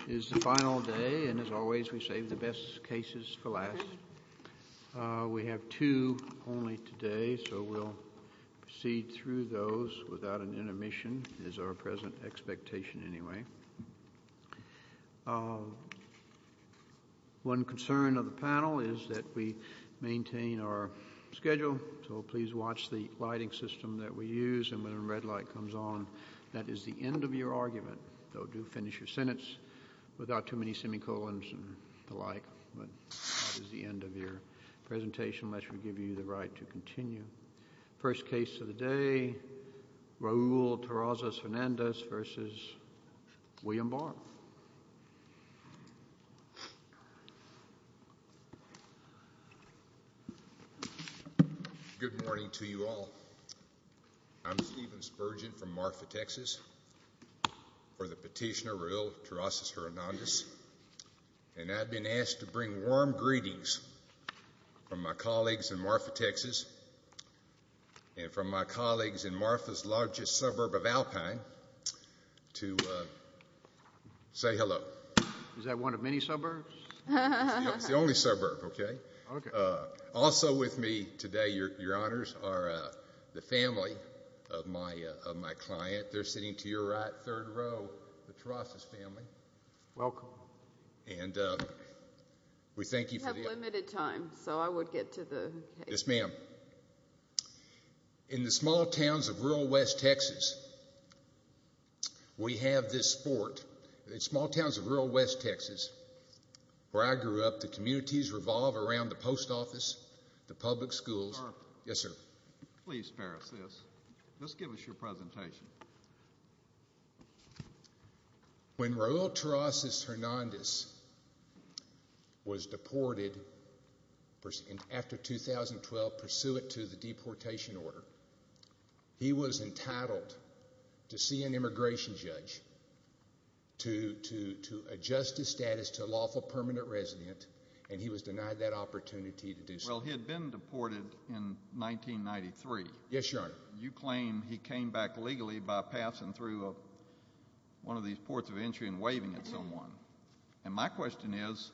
It is the final day, and as always we save the best cases for last. We have two only today, so we'll proceed through those without an intermission, is our present expectation anyway. One concern of the panel is that we maintain our schedule, so please watch the lighting system that we use, and when a red light comes on, that is the end of your argument. So do finish your sentence without too many semicolons and the like, but that is the end of your presentation, unless we give you the right to continue. First case of the day, Raul Terrazas-Hernandez v. William Barr. Good morning to you all. I'm Stephen Spurgeon from Marfa, Texas, for the petitioner Raul Terrazas-Hernandez, and I've been asked to bring warm greetings from my colleagues in Marfa, Texas, and from my colleagues in Marfa's largest suburb of Alpine to say hello. Is that one of many suburbs? It's the only suburb, okay? Okay. Also with me today, Your Honors, are the family of my client. They're sitting to your right, third row, the Terrazas family. Welcome. And we thank you for the We have limited time, so I would get to the case. Yes, ma'am. In the small towns of rural West Texas, we have this sport. In small towns of rural West Texas, where I grew up, the communities revolve around the post office, the public schools. Marfa. Yes, sir. Please spare us this. Just give us your presentation. When Raul Terrazas-Hernandez was deported after 2012, pursuant to the deportation order, he was entitled to see an immigration judge to adjust his status to a lawful permanent resident, and he was denied that opportunity to do so. Well, he had been deported in 1993. Yes, Your Honor. You claim he came back legally by passing through one of these ports of entry and waving at someone. And my question is,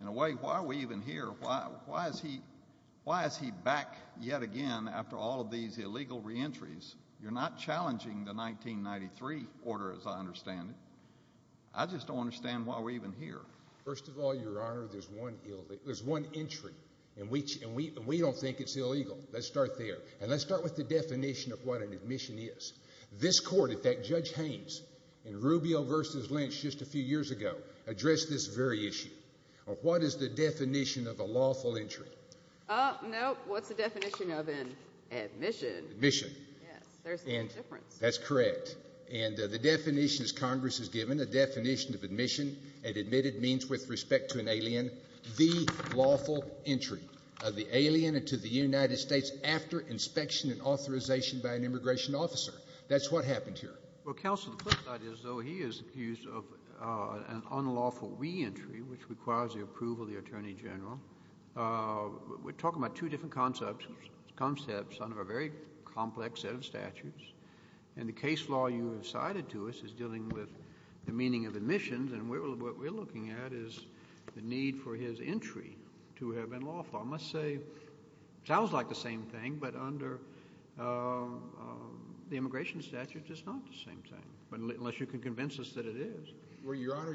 in a way, why are we even here? Why is he back yet again after all of these illegal reentries? You're not challenging the 1993 order, as I understand it. I just don't understand why we're even here. First of all, Your Honor, there's one entry, and we don't think it's illegal. Let's start there. And let's start with the definition of what an admission is. This court, in fact, Judge Haynes, in Rubio v. Lynch just a few years ago, addressed this very issue. What is the definition of a lawful entry? No, what's the definition of an admission? Admission. Yes, there's no difference. That's correct. And the definition, as Congress has given, a definition of admission and admitted means with respect to an alien, the lawful entry of the alien into the United States after inspection and authorization by an immigration officer. That's what happened here. Well, Counsel, the flip side is, though, he is accused of an unlawful reentry, which requires the approval of the attorney general. We're talking about two different concepts under a very complex set of statutes. And the case law you have cited to us is dealing with the meaning of admissions, and what we're looking at is the need for his entry to have been lawful. I must say it sounds like the same thing, but under the immigration statute it's not the same thing, unless you can convince us that it is. Well, Your Honor,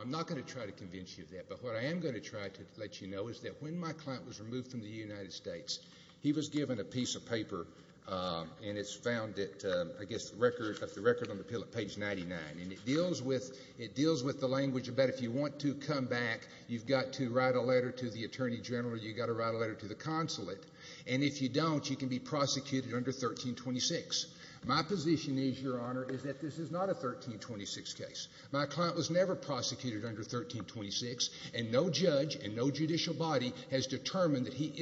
I'm not going to try to convince you of that, but what I am going to try to let you know is that when my client was removed from the United States, he was given a piece of paper, and it's found at, I guess, the record on the pill at page 99. And it deals with the language about if you want to come back, you've got to write a letter to the attorney general, you've got to write a letter to the consulate, and if you don't, you can be prosecuted under 1326. My position is, Your Honor, is that this is not a 1326 case. My client was never prosecuted under 1326, and no judge and no judicial body has determined that he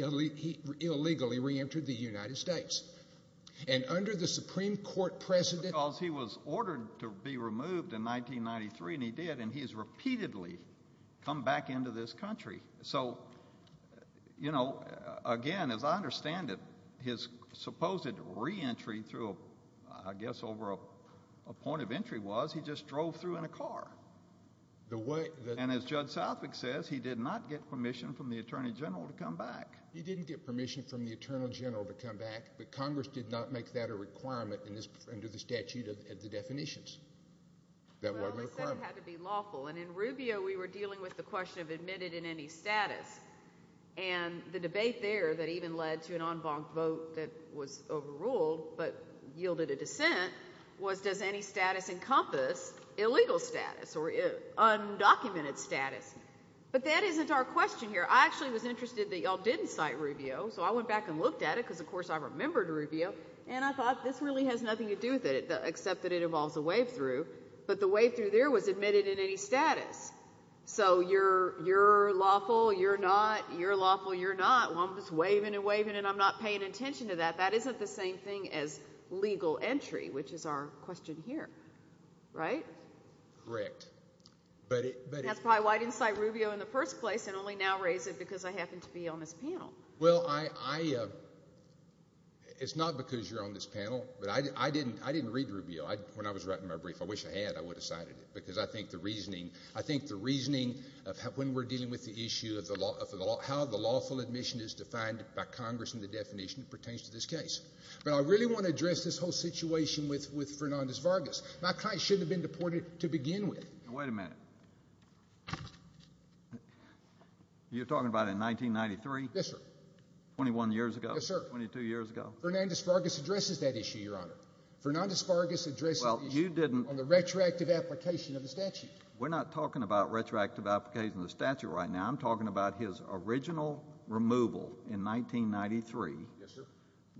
illegally reentered the United States. And under the Supreme Court precedent he was ordered to be removed in 1993, and he did, and he has repeatedly come back into this country. So, you know, again, as I understand it, his supposed reentry through, I guess, over a point of entry was he just drove through in a car. And as Judge Southwick says, he did not get permission from the attorney general to come back. He didn't get permission from the attorney general to come back, but Congress did not make that a requirement under the statute of the definitions. That wasn't a requirement. Well, they said it had to be lawful, and in Rubio we were dealing with the question of admitted in any status. And the debate there that even led to an en banc vote that was overruled but yielded a dissent was does any status encompass illegal status or undocumented status. But that isn't our question here. I actually was interested that you all didn't cite Rubio, so I went back and looked at it because, of course, I remembered Rubio, and I thought this really has nothing to do with it except that it involves a wave through. But the wave through there was admitted in any status. So you're lawful, you're not, you're lawful, you're not. Well, I'm just waving and waving and I'm not paying attention to that. That isn't the same thing as legal entry, which is our question here. Right? Correct. That's probably why I didn't cite Rubio in the first place and only now raise it because I happen to be on this panel. Well, I, it's not because you're on this panel, but I didn't read Rubio. When I was writing my brief, I wish I had. I would have cited it because I think the reasoning, I think the reasoning of when we're dealing with the issue of how the lawful admission is defined by Congress and the definition that pertains to this case. But I really want to address this whole situation with Fernandez-Vargas. My client shouldn't have been deported to begin with. Wait a minute. You're talking about in 1993? Yes, sir. Twenty-one years ago? Yes, sir. Twenty-two years ago? Fernandez-Vargas addresses that issue, Your Honor. Fernandez-Vargas addresses the issue on the retroactive application of the statute. We're not talking about retroactive application of the statute right now. I'm talking about his original removal in 1993. Yes, sir.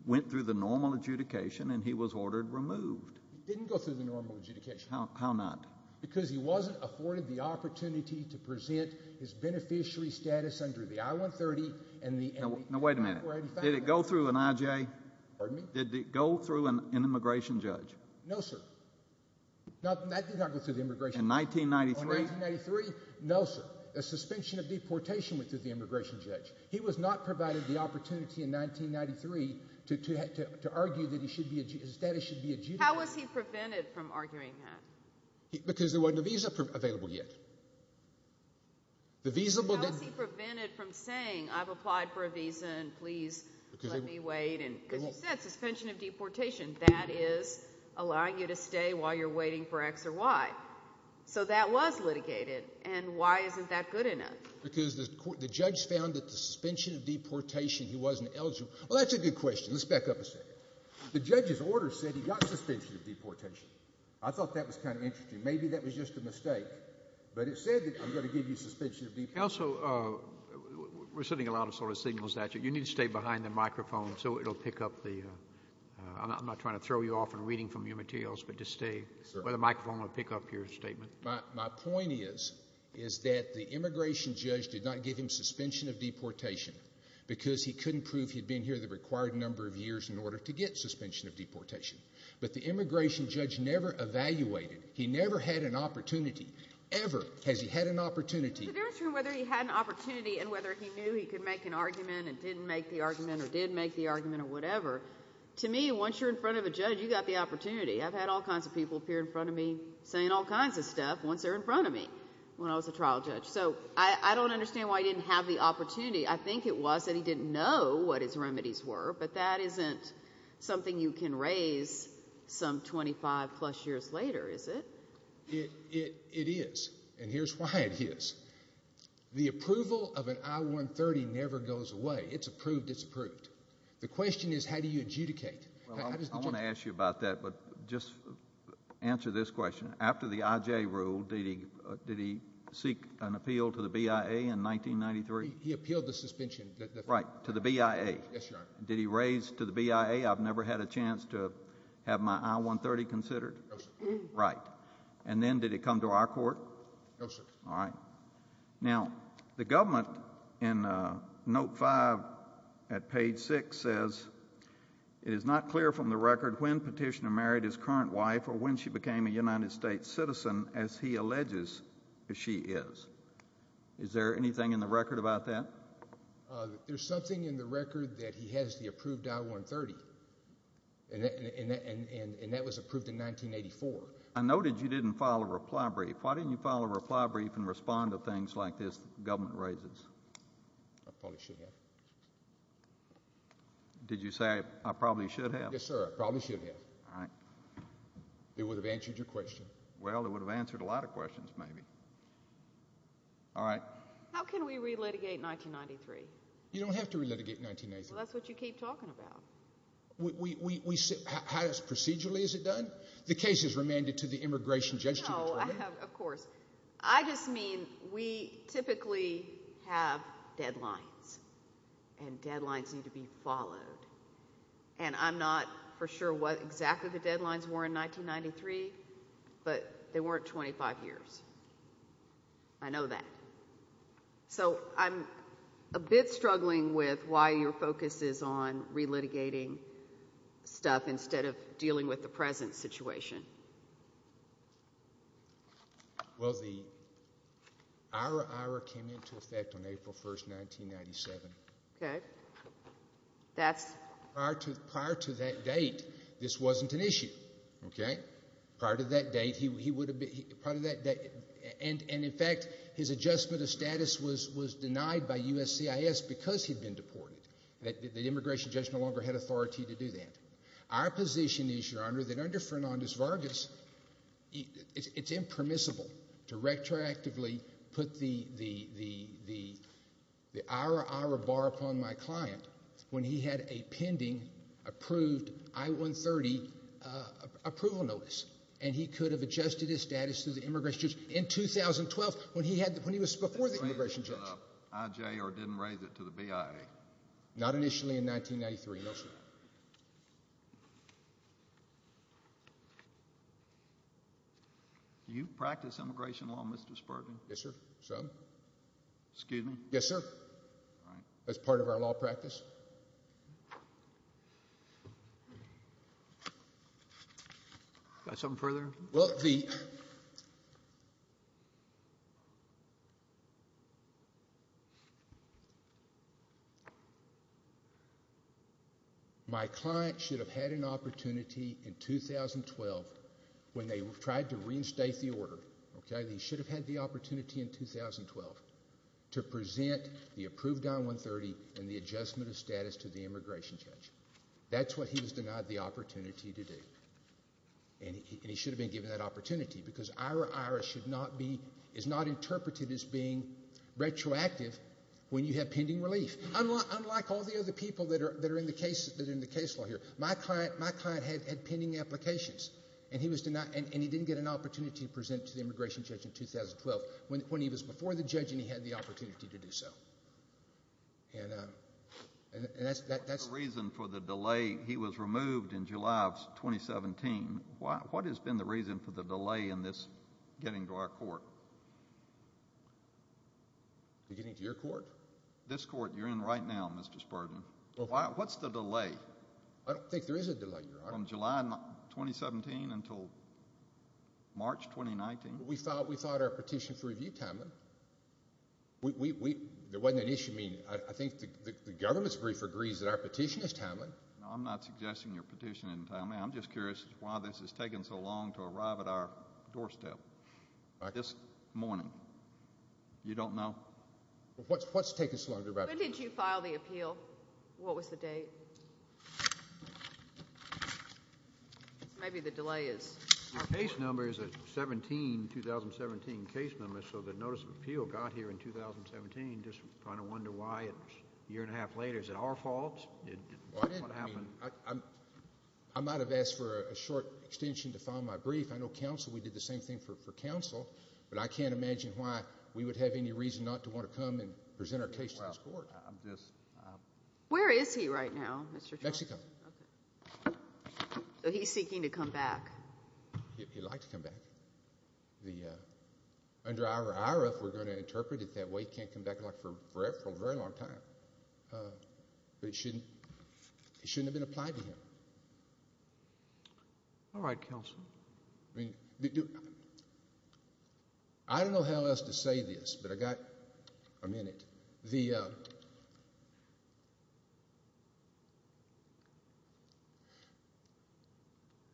Went through the normal adjudication, and he was ordered removed. He didn't go through the normal adjudication. How not? Because he wasn't afforded the opportunity to present his beneficiary status under the I-130. Now, wait a minute. Did it go through an IJ? Pardon me? Did it go through an immigration judge? No, sir. That did not go through the immigration judge. In 1993? In 1993? No, sir. A suspension of deportation went through the immigration judge. He was not provided the opportunity in 1993 to argue that his status should be adjudicated. How was he prevented from arguing that? Because there wasn't a visa available yet. How was he prevented from saying, I've applied for a visa, and please let me wait? Because he said suspension of deportation. That is allowing you to stay while you're waiting for X or Y. So that was litigated. And why isn't that good enough? Because the judge found that the suspension of deportation, he wasn't eligible. Well, that's a good question. Let's back up a second. The judge's order said he got suspension of deportation. I thought that was kind of interesting. Maybe that was just a mistake. But it said that I'm going to give you suspension of deportation. Also, we're sending a lot of sort of signals at you. You need to stay behind the microphone so it will pick up the— or the microphone will pick up your statement. My point is, is that the immigration judge did not give him suspension of deportation because he couldn't prove he'd been here the required number of years in order to get suspension of deportation. But the immigration judge never evaluated. He never had an opportunity, ever has he had an opportunity. The difference between whether he had an opportunity and whether he knew he could make an argument and didn't make the argument or did make the argument or whatever, to me, once you're in front of a judge, you've got the opportunity. I've had all kinds of people appear in front of me saying all kinds of stuff once they're in front of me when I was a trial judge. So I don't understand why he didn't have the opportunity. I think it was that he didn't know what his remedies were, but that isn't something you can raise some 25-plus years later, is it? It is, and here's why it is. The approval of an I-130 never goes away. It's approved, it's approved. The question is how do you adjudicate? I want to ask you about that, but just answer this question. After the IJ rule, did he seek an appeal to the BIA in 1993? He appealed the suspension. Right, to the BIA. Yes, Your Honor. Did he raise to the BIA, I've never had a chance to have my I-130 considered? No, sir. Right. And then did it come to our court? No, sir. All right. Now, the government in Note 5 at page 6 says, it is not clear from the record when Petitioner married his current wife or when she became a United States citizen, as he alleges she is. Is there anything in the record about that? There's something in the record that he has the approved I-130, and that was approved in 1984. I noted you didn't file a reply brief. Why didn't you file a reply brief and respond to things like this the government raises? I probably should have. Did you say, I probably should have? Yes, sir. I probably should have. All right. It would have answered your question. Well, it would have answered a lot of questions, maybe. All right. How can we re-litigate 1993? You don't have to re-litigate 1993. Well, that's what you keep talking about. How procedurally is it done? The case is remanded to the Immigration Judiciary. No, of course. I just mean we typically have deadlines, and deadlines need to be followed. And I'm not for sure what exactly the deadlines were in 1993, but they weren't 25 years. I know that. So I'm a bit struggling with why your focus is on re-litigating stuff instead of dealing with the present situation. Well, our IRA came into effect on April 1, 1997. Okay. Prior to that date, this wasn't an issue. Prior to that date, he would have been ---- and, in fact, his adjustment of status was denied by USCIS because he'd been deported. The Immigration Judge no longer had authority to do that. Our position is, Your Honor, that under Fernandez-Vargas, it's impermissible to retroactively put the IRA-IRA bar upon my client when he had a pending approved I-130 approval notice, and he could have adjusted his status to the Immigration Judge in 2012 when he was before the Immigration Judge. Did he raise it to the IJ or didn't raise it to the BIA? Not initially in 1993, no, sir. Do you practice immigration law, Mr. Spurgeon? Yes, sir, some. Excuse me? Yes, sir, as part of our law practice. Got something further? Well, the ---- My client should have had an opportunity in 2012 when they tried to reinstate the order, okay, they should have had the opportunity in 2012 to present the approved I-130 and the adjustment of status to the Immigration Judge. That's what he was denied the opportunity to do, and he should have been given that opportunity because IRA-IRA is not interpreted as being retroactive when you have pending relief. Unlike all the other people that are in the case law here, my client had pending applications, and he didn't get an opportunity to present to the Immigration Judge in 2012 when he was before the judge and he had the opportunity to do so. And that's ---- What's the reason for the delay? He was removed in July of 2017. What has been the reason for the delay in this getting to our court? Getting to your court? This court you're in right now, Mr. Spurgeon. What's the delay? I don't think there is a delay, Your Honor. From July 2017 until March 2019? We filed our petition for review time. There wasn't an issue. I think the government's brief agrees that our petition is timely. No, I'm not suggesting your petition isn't timely. I'm just curious as to why this has taken so long to arrive at our doorstep this morning. You don't know? What's taken so long to arrive? When did you file the appeal? What was the date? Maybe the delay is ---- Your case number is a 2017 case number, so the notice of appeal got here in 2017. I'm just trying to wonder why a year and a half later. Is it our fault? I might have asked for a short extension to file my brief. I know counsel, we did the same thing for counsel. But I can't imagine why we would have any reason not to want to come and present our case to this court. Where is he right now, Mr. Charles? Mexico. So he's seeking to come back. He'd like to come back. Under our RF, we're going to interpret it that way. He can't come back for a very long time. But it shouldn't have been applied to him. All right, counsel. I don't know how else to say this, but I've got a minute.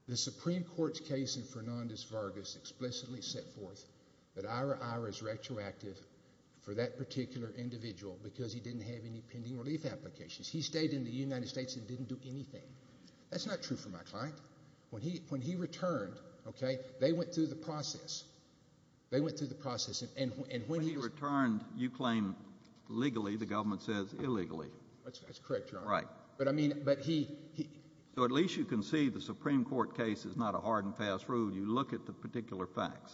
The Supreme Court's case in Fernandez-Vargas explicitly set forth that Ira Ira is retroactive for that particular individual because he didn't have any pending relief applications. He stayed in the United States and didn't do anything. That's not true for my client. When he returned, they went through the process. They went through the process. When he returned, you claim legally. The government says illegally. That's correct, Your Honor. Right. But, I mean, he— So at least you can see the Supreme Court case is not a hard and fast rule. You look at the particular facts.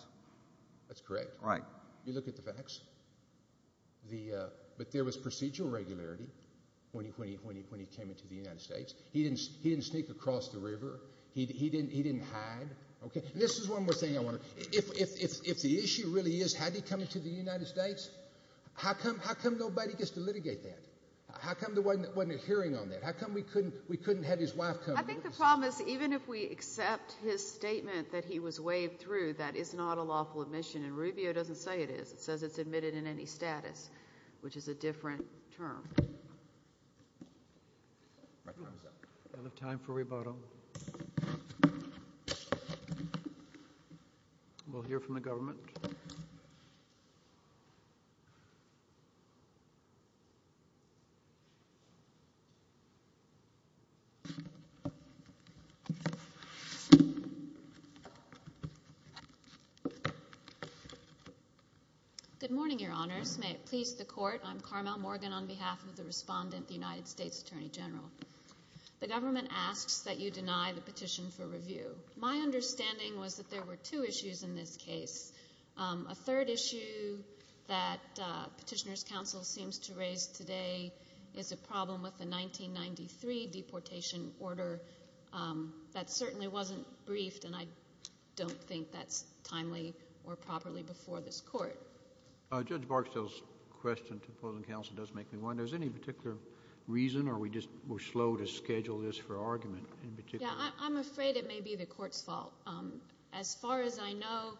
That's correct. Right. You look at the facts. But there was procedural regularity when he came into the United States. He didn't sneak across the river. He didn't hide. Okay. This is one more thing I want to—if the issue really is had he come into the United States, how come nobody gets to litigate that? How come there wasn't a hearing on that? How come we couldn't have his wife come? I think the problem is even if we accept his statement that he was waived through, that is not a lawful admission. And Rubio doesn't say it is. It says it's admitted in any status, which is a different term. We have time for rebuttal. We'll hear from the government. Good morning, Your Honors. May it please the Court, I'm Carmel Morgan on behalf of the respondent, the United States Attorney General. The government asks that you deny the petition for review. My understanding was that there were two issues in this case. A third issue that Petitioner's Counsel seems to raise today is a problem with the 1993 deportation order. That certainly wasn't briefed, and I don't think that's timely or properly before this Court. Judge Barksdale's question to the opposing counsel does make me wonder. Is there any particular reason, or we're slow to schedule this for argument in particular? Yeah, I'm afraid it may be the Court's fault. As far as I know,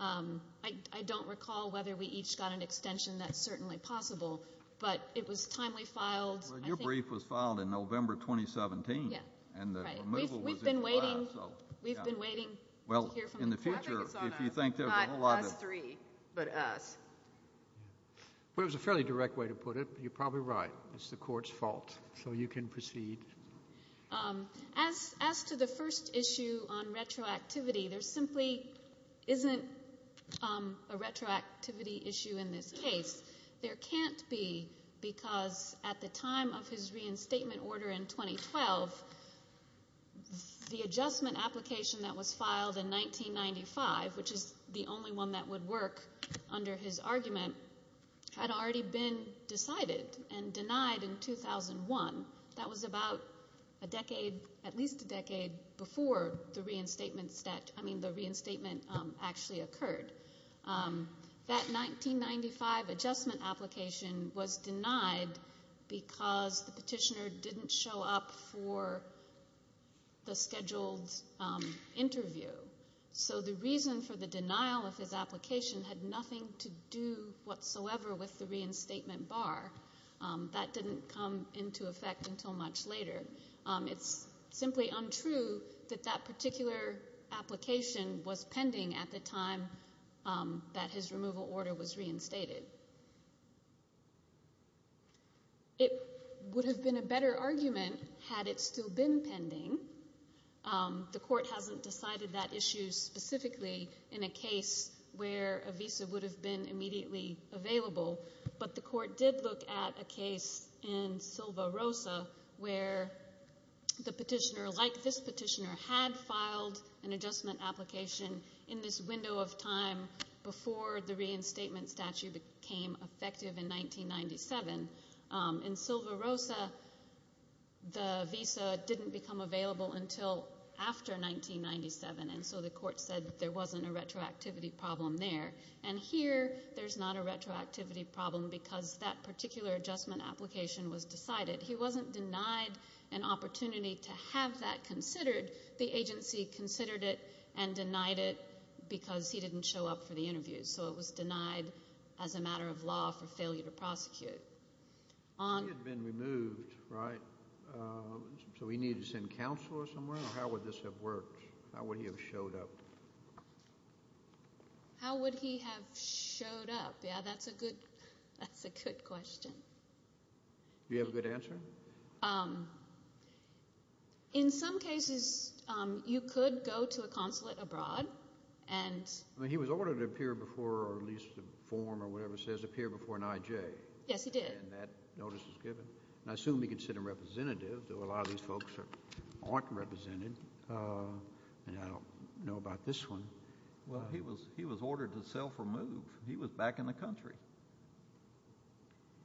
I don't recall whether we each got an extension. That's certainly possible, but it was timely filed. Well, your brief was filed in November 2017. Yeah, right. We've been waiting to hear from the Court. Well, in the future, if you think there's a whole lot of— Not us three, but us. Well, it was a fairly direct way to put it, but you're probably right. It's the Court's fault, so you can proceed. As to the first issue on retroactivity, there simply isn't a retroactivity issue in this case. There can't be, because at the time of his reinstatement order in 2012, the adjustment application that was filed in 1995, which is the only one that would work under his argument, had already been decided and denied in 2001. That was about a decade, at least a decade, before the reinstatement actually occurred. That 1995 adjustment application was denied because the petitioner didn't show up for the scheduled interview. So the reason for the denial of his application had nothing to do whatsoever with the reinstatement bar. That didn't come into effect until much later. It's simply untrue that that particular application was pending at the time that his removal order was reinstated. It would have been a better argument had it still been pending. The Court hasn't decided that issue specifically in a case where a visa would have been immediately available, but the Court did look at a case in Silva-Rosa where the petitioner, like this petitioner, had filed an adjustment application in this window of time before the reinstatement statute became effective in 1997. In Silva-Rosa, the visa didn't become available until after 1997, and so the Court said there wasn't a retroactivity problem there. And here there's not a retroactivity problem because that particular adjustment application was decided. He wasn't denied an opportunity to have that considered. The agency considered it and denied it because he didn't show up for the interview, so it was denied as a matter of law for failure to prosecute. He had been removed, right? So he needed to send counsel or somewhere? How would this have worked? How would he have showed up? How would he have showed up? Yeah, that's a good question. Do you have a good answer? In some cases, you could go to a consulate abroad and— He was ordered to appear before or at least a form or whatever says appear before an IJ. Yes, he did. And that notice was given. And I assume he could sit a representative, though a lot of these folks aren't represented, and I don't know about this one. He was ordered to self-remove. He was back in the country.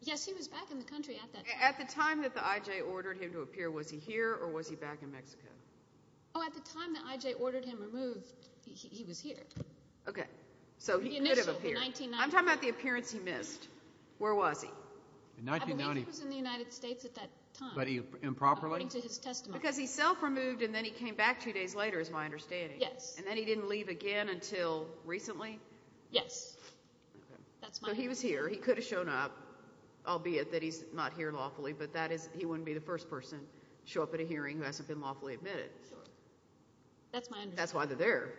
Yes, he was back in the country at that time. At the time that the IJ ordered him to appear, was he here or was he back in Mexico? Oh, at the time the IJ ordered him removed, he was here. Okay, so he could have appeared. I'm talking about the appearance he missed. Where was he? I believe he was in the United States at that time. But improperly? According to his testimony. Because he self-removed and then he came back two days later is my understanding. Yes. And then he didn't leave again until recently? Yes. Okay. So he was here. He could have shown up, albeit that he's not here lawfully, but he wouldn't be the first person to show up at a hearing who hasn't been lawfully admitted. Sure. That's my understanding. That's why they're there.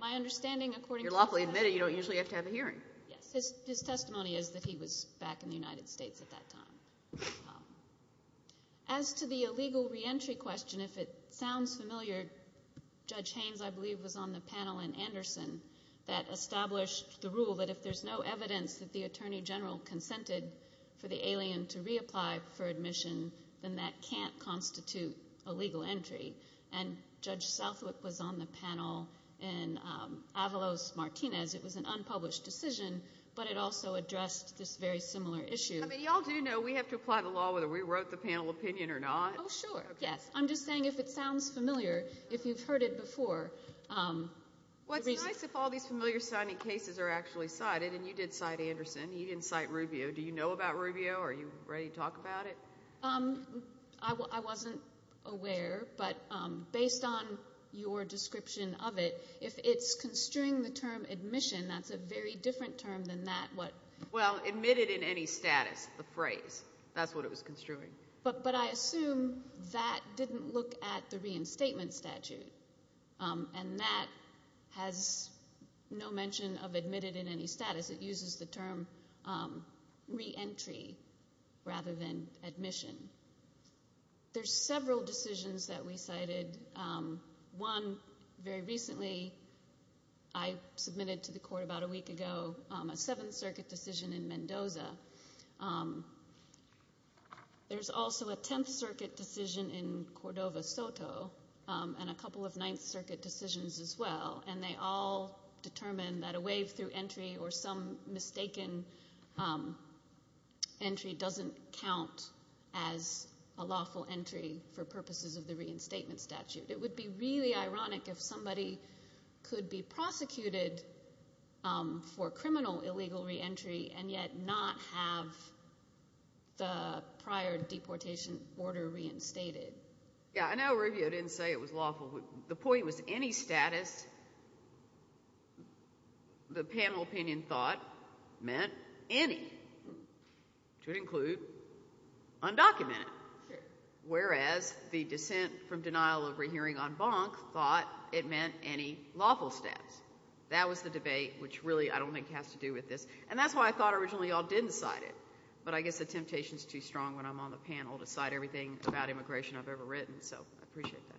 My understanding, according to his testimony— You're lawfully admitted. You don't usually have to have a hearing. Yes. His testimony is that he was back in the United States at that time. As to the illegal reentry question, if it sounds familiar, Judge Haynes, I believe, was on the panel in Anderson that established the rule that if there's no evidence that the Attorney General consented for the alien to reapply for admission, then that can't constitute a legal entry. And Judge Southwick was on the panel in Avalos-Martinez. It was an unpublished decision, but it also addressed this very similar issue. I mean, you all do know we have to apply the law whether we wrote the panel opinion or not. Oh, sure. Yes. I'm just saying if it sounds familiar, if you've heard it before. Well, it's nice if all these familiar-sounding cases are actually cited, and you did cite Anderson. You didn't cite Rubio. Do you know about Rubio? Are you ready to talk about it? I wasn't aware, but based on your description of it, if it's construing the term admission, that's a very different term than that. Well, admitted in any status, the phrase. That's what it was construing. But I assume that didn't look at the reinstatement statute, and that has no mention of admitted in any status. It uses the term reentry rather than admission. There's several decisions that we cited. One, very recently I submitted to the court about a week ago a Seventh Circuit decision in Mendoza. There's also a Tenth Circuit decision in Cordova-Soto and a couple of Ninth Circuit decisions as well, and they all determine that a waive through entry or some mistaken entry doesn't count as a lawful entry for purposes of the reinstatement statute. It would be really ironic if somebody could be prosecuted for criminal illegal reentry and yet not have the prior deportation order reinstated. Yeah, I know Rubio didn't say it was lawful. The point was any status the panel opinion thought meant any, which would include undocumented, whereas the dissent from denial of rehearing on bonk thought it meant any lawful status. That was the debate, which really I don't think has to do with this, and that's why I thought originally you all did decide it, but I guess the temptation is too strong when I'm on the panel to cite everything about immigration I've ever written, so I appreciate that.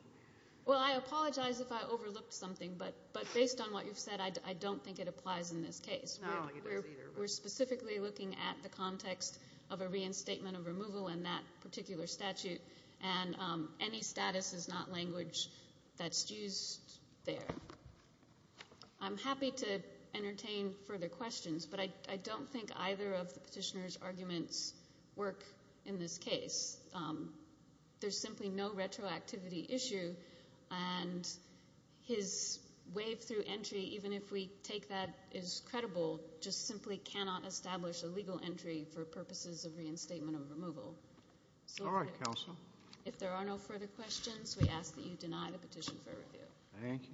Well, I apologize if I overlooked something, but based on what you've said, I don't think it applies in this case. We're specifically looking at the context of a reinstatement of removal in that particular statute, and any status is not language that's used there. I'm happy to entertain further questions, but I don't think either of the petitioner's arguments work in this case. There's simply no retroactivity issue, and his waive through entry, even if we take that as credible, just simply cannot establish a legal entry for purposes of reinstatement of removal. All right, counsel. If there are no further questions, we ask that you deny the petition for review. Thank you.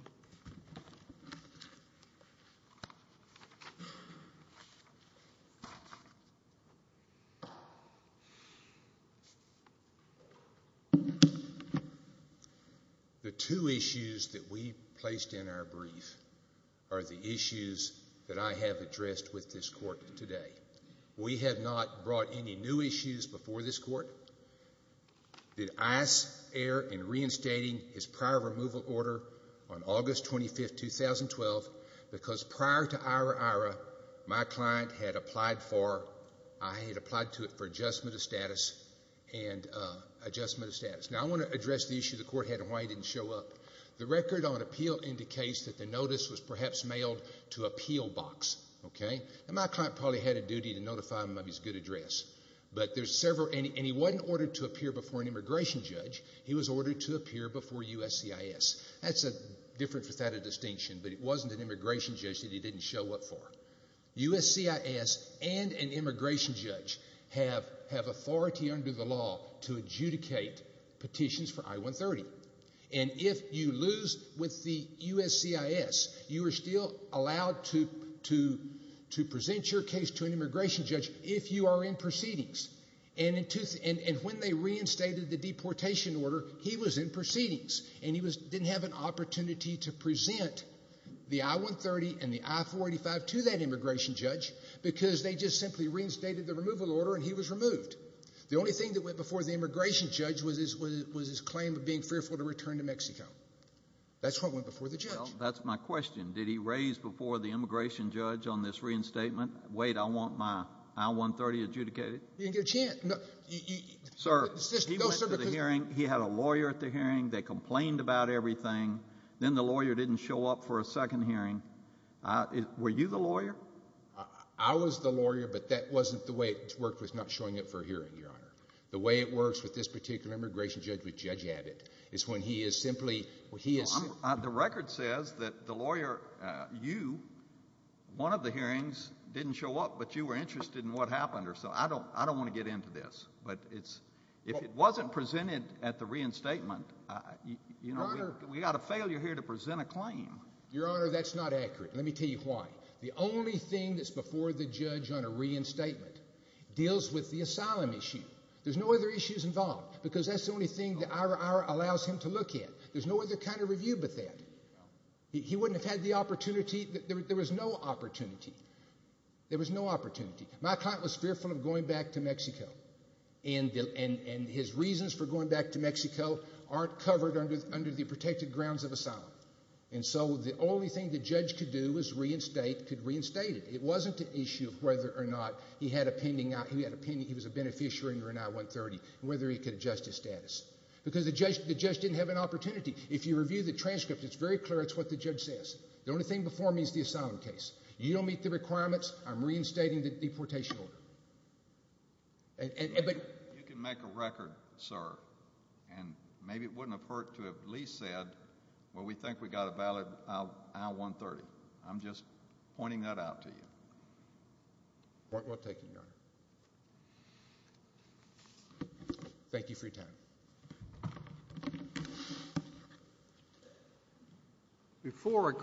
The two issues that we placed in our brief are the issues that I have addressed with this court today. We have not brought any new issues before this court. Did ICE err in reinstating his prior removal order on August 25, 2012, because prior to IRA-IRA, my client had applied for adjustment of status. Now, I want to address the issue the court had and why he didn't show up. The record on appeal indicates that the notice was perhaps mailed to a Peel box. My client probably had a duty to notify him of his good address. He wasn't ordered to appear before an immigration judge. He was ordered to appear before USCIS. That's different without a distinction, but it wasn't an immigration judge that he didn't show up for. USCIS and an immigration judge have authority under the law to adjudicate petitions for I-130. And if you lose with the USCIS, you are still allowed to present your case to an immigration judge if you are in proceedings. And when they reinstated the deportation order, he was in proceedings, and he didn't have an opportunity to present the I-130 and the I-485 to that immigration judge because they just simply reinstated the removal order and he was removed. The only thing that went before the immigration judge was his claim of being fearful to return to Mexico. That's what went before the judge. Well, that's my question. Did he raise before the immigration judge on this reinstatement, wait, I want my I-130 adjudicated? He didn't get a chance. Sir, he went to the hearing. He had a lawyer at the hearing. They complained about everything. Then the lawyer didn't show up for a second hearing. Were you the lawyer? I was the lawyer, but that wasn't the way it worked was not showing up for a hearing, Your Honor. The way it works with this particular immigration judge, with Judge Abbott, is when he is simply— The record says that the lawyer, you, one of the hearings didn't show up, but you were interested in what happened or something. I don't want to get into this, but if it wasn't presented at the reinstatement, we've got a failure here to present a claim. Your Honor, that's not accurate. Let me tell you why. The only thing that's before the judge on a reinstatement deals with the asylum issue. There's no other issues involved because that's the only thing the IRR allows him to look at. There's no other kind of review but that. He wouldn't have had the opportunity. There was no opportunity. There was no opportunity. My client was fearful of going back to Mexico, and his reasons for going back to Mexico aren't covered under the protected grounds of asylum. And so the only thing the judge could do was reinstate—could reinstate it. It wasn't an issue of whether or not he had a pending—he was a beneficiary under an I-130 and whether he could adjust his status. Because the judge didn't have an opportunity. If you review the transcript, it's very clear it's what the judge says. The only thing before me is the asylum case. You don't meet the requirements. I'm reinstating the deportation order. But— You can make a record, sir, and maybe it wouldn't have hurt to have at least said, well, we think we got a valid I-130. I'm just pointing that out to you. Point well taken, Your Honor. Thank you for your time.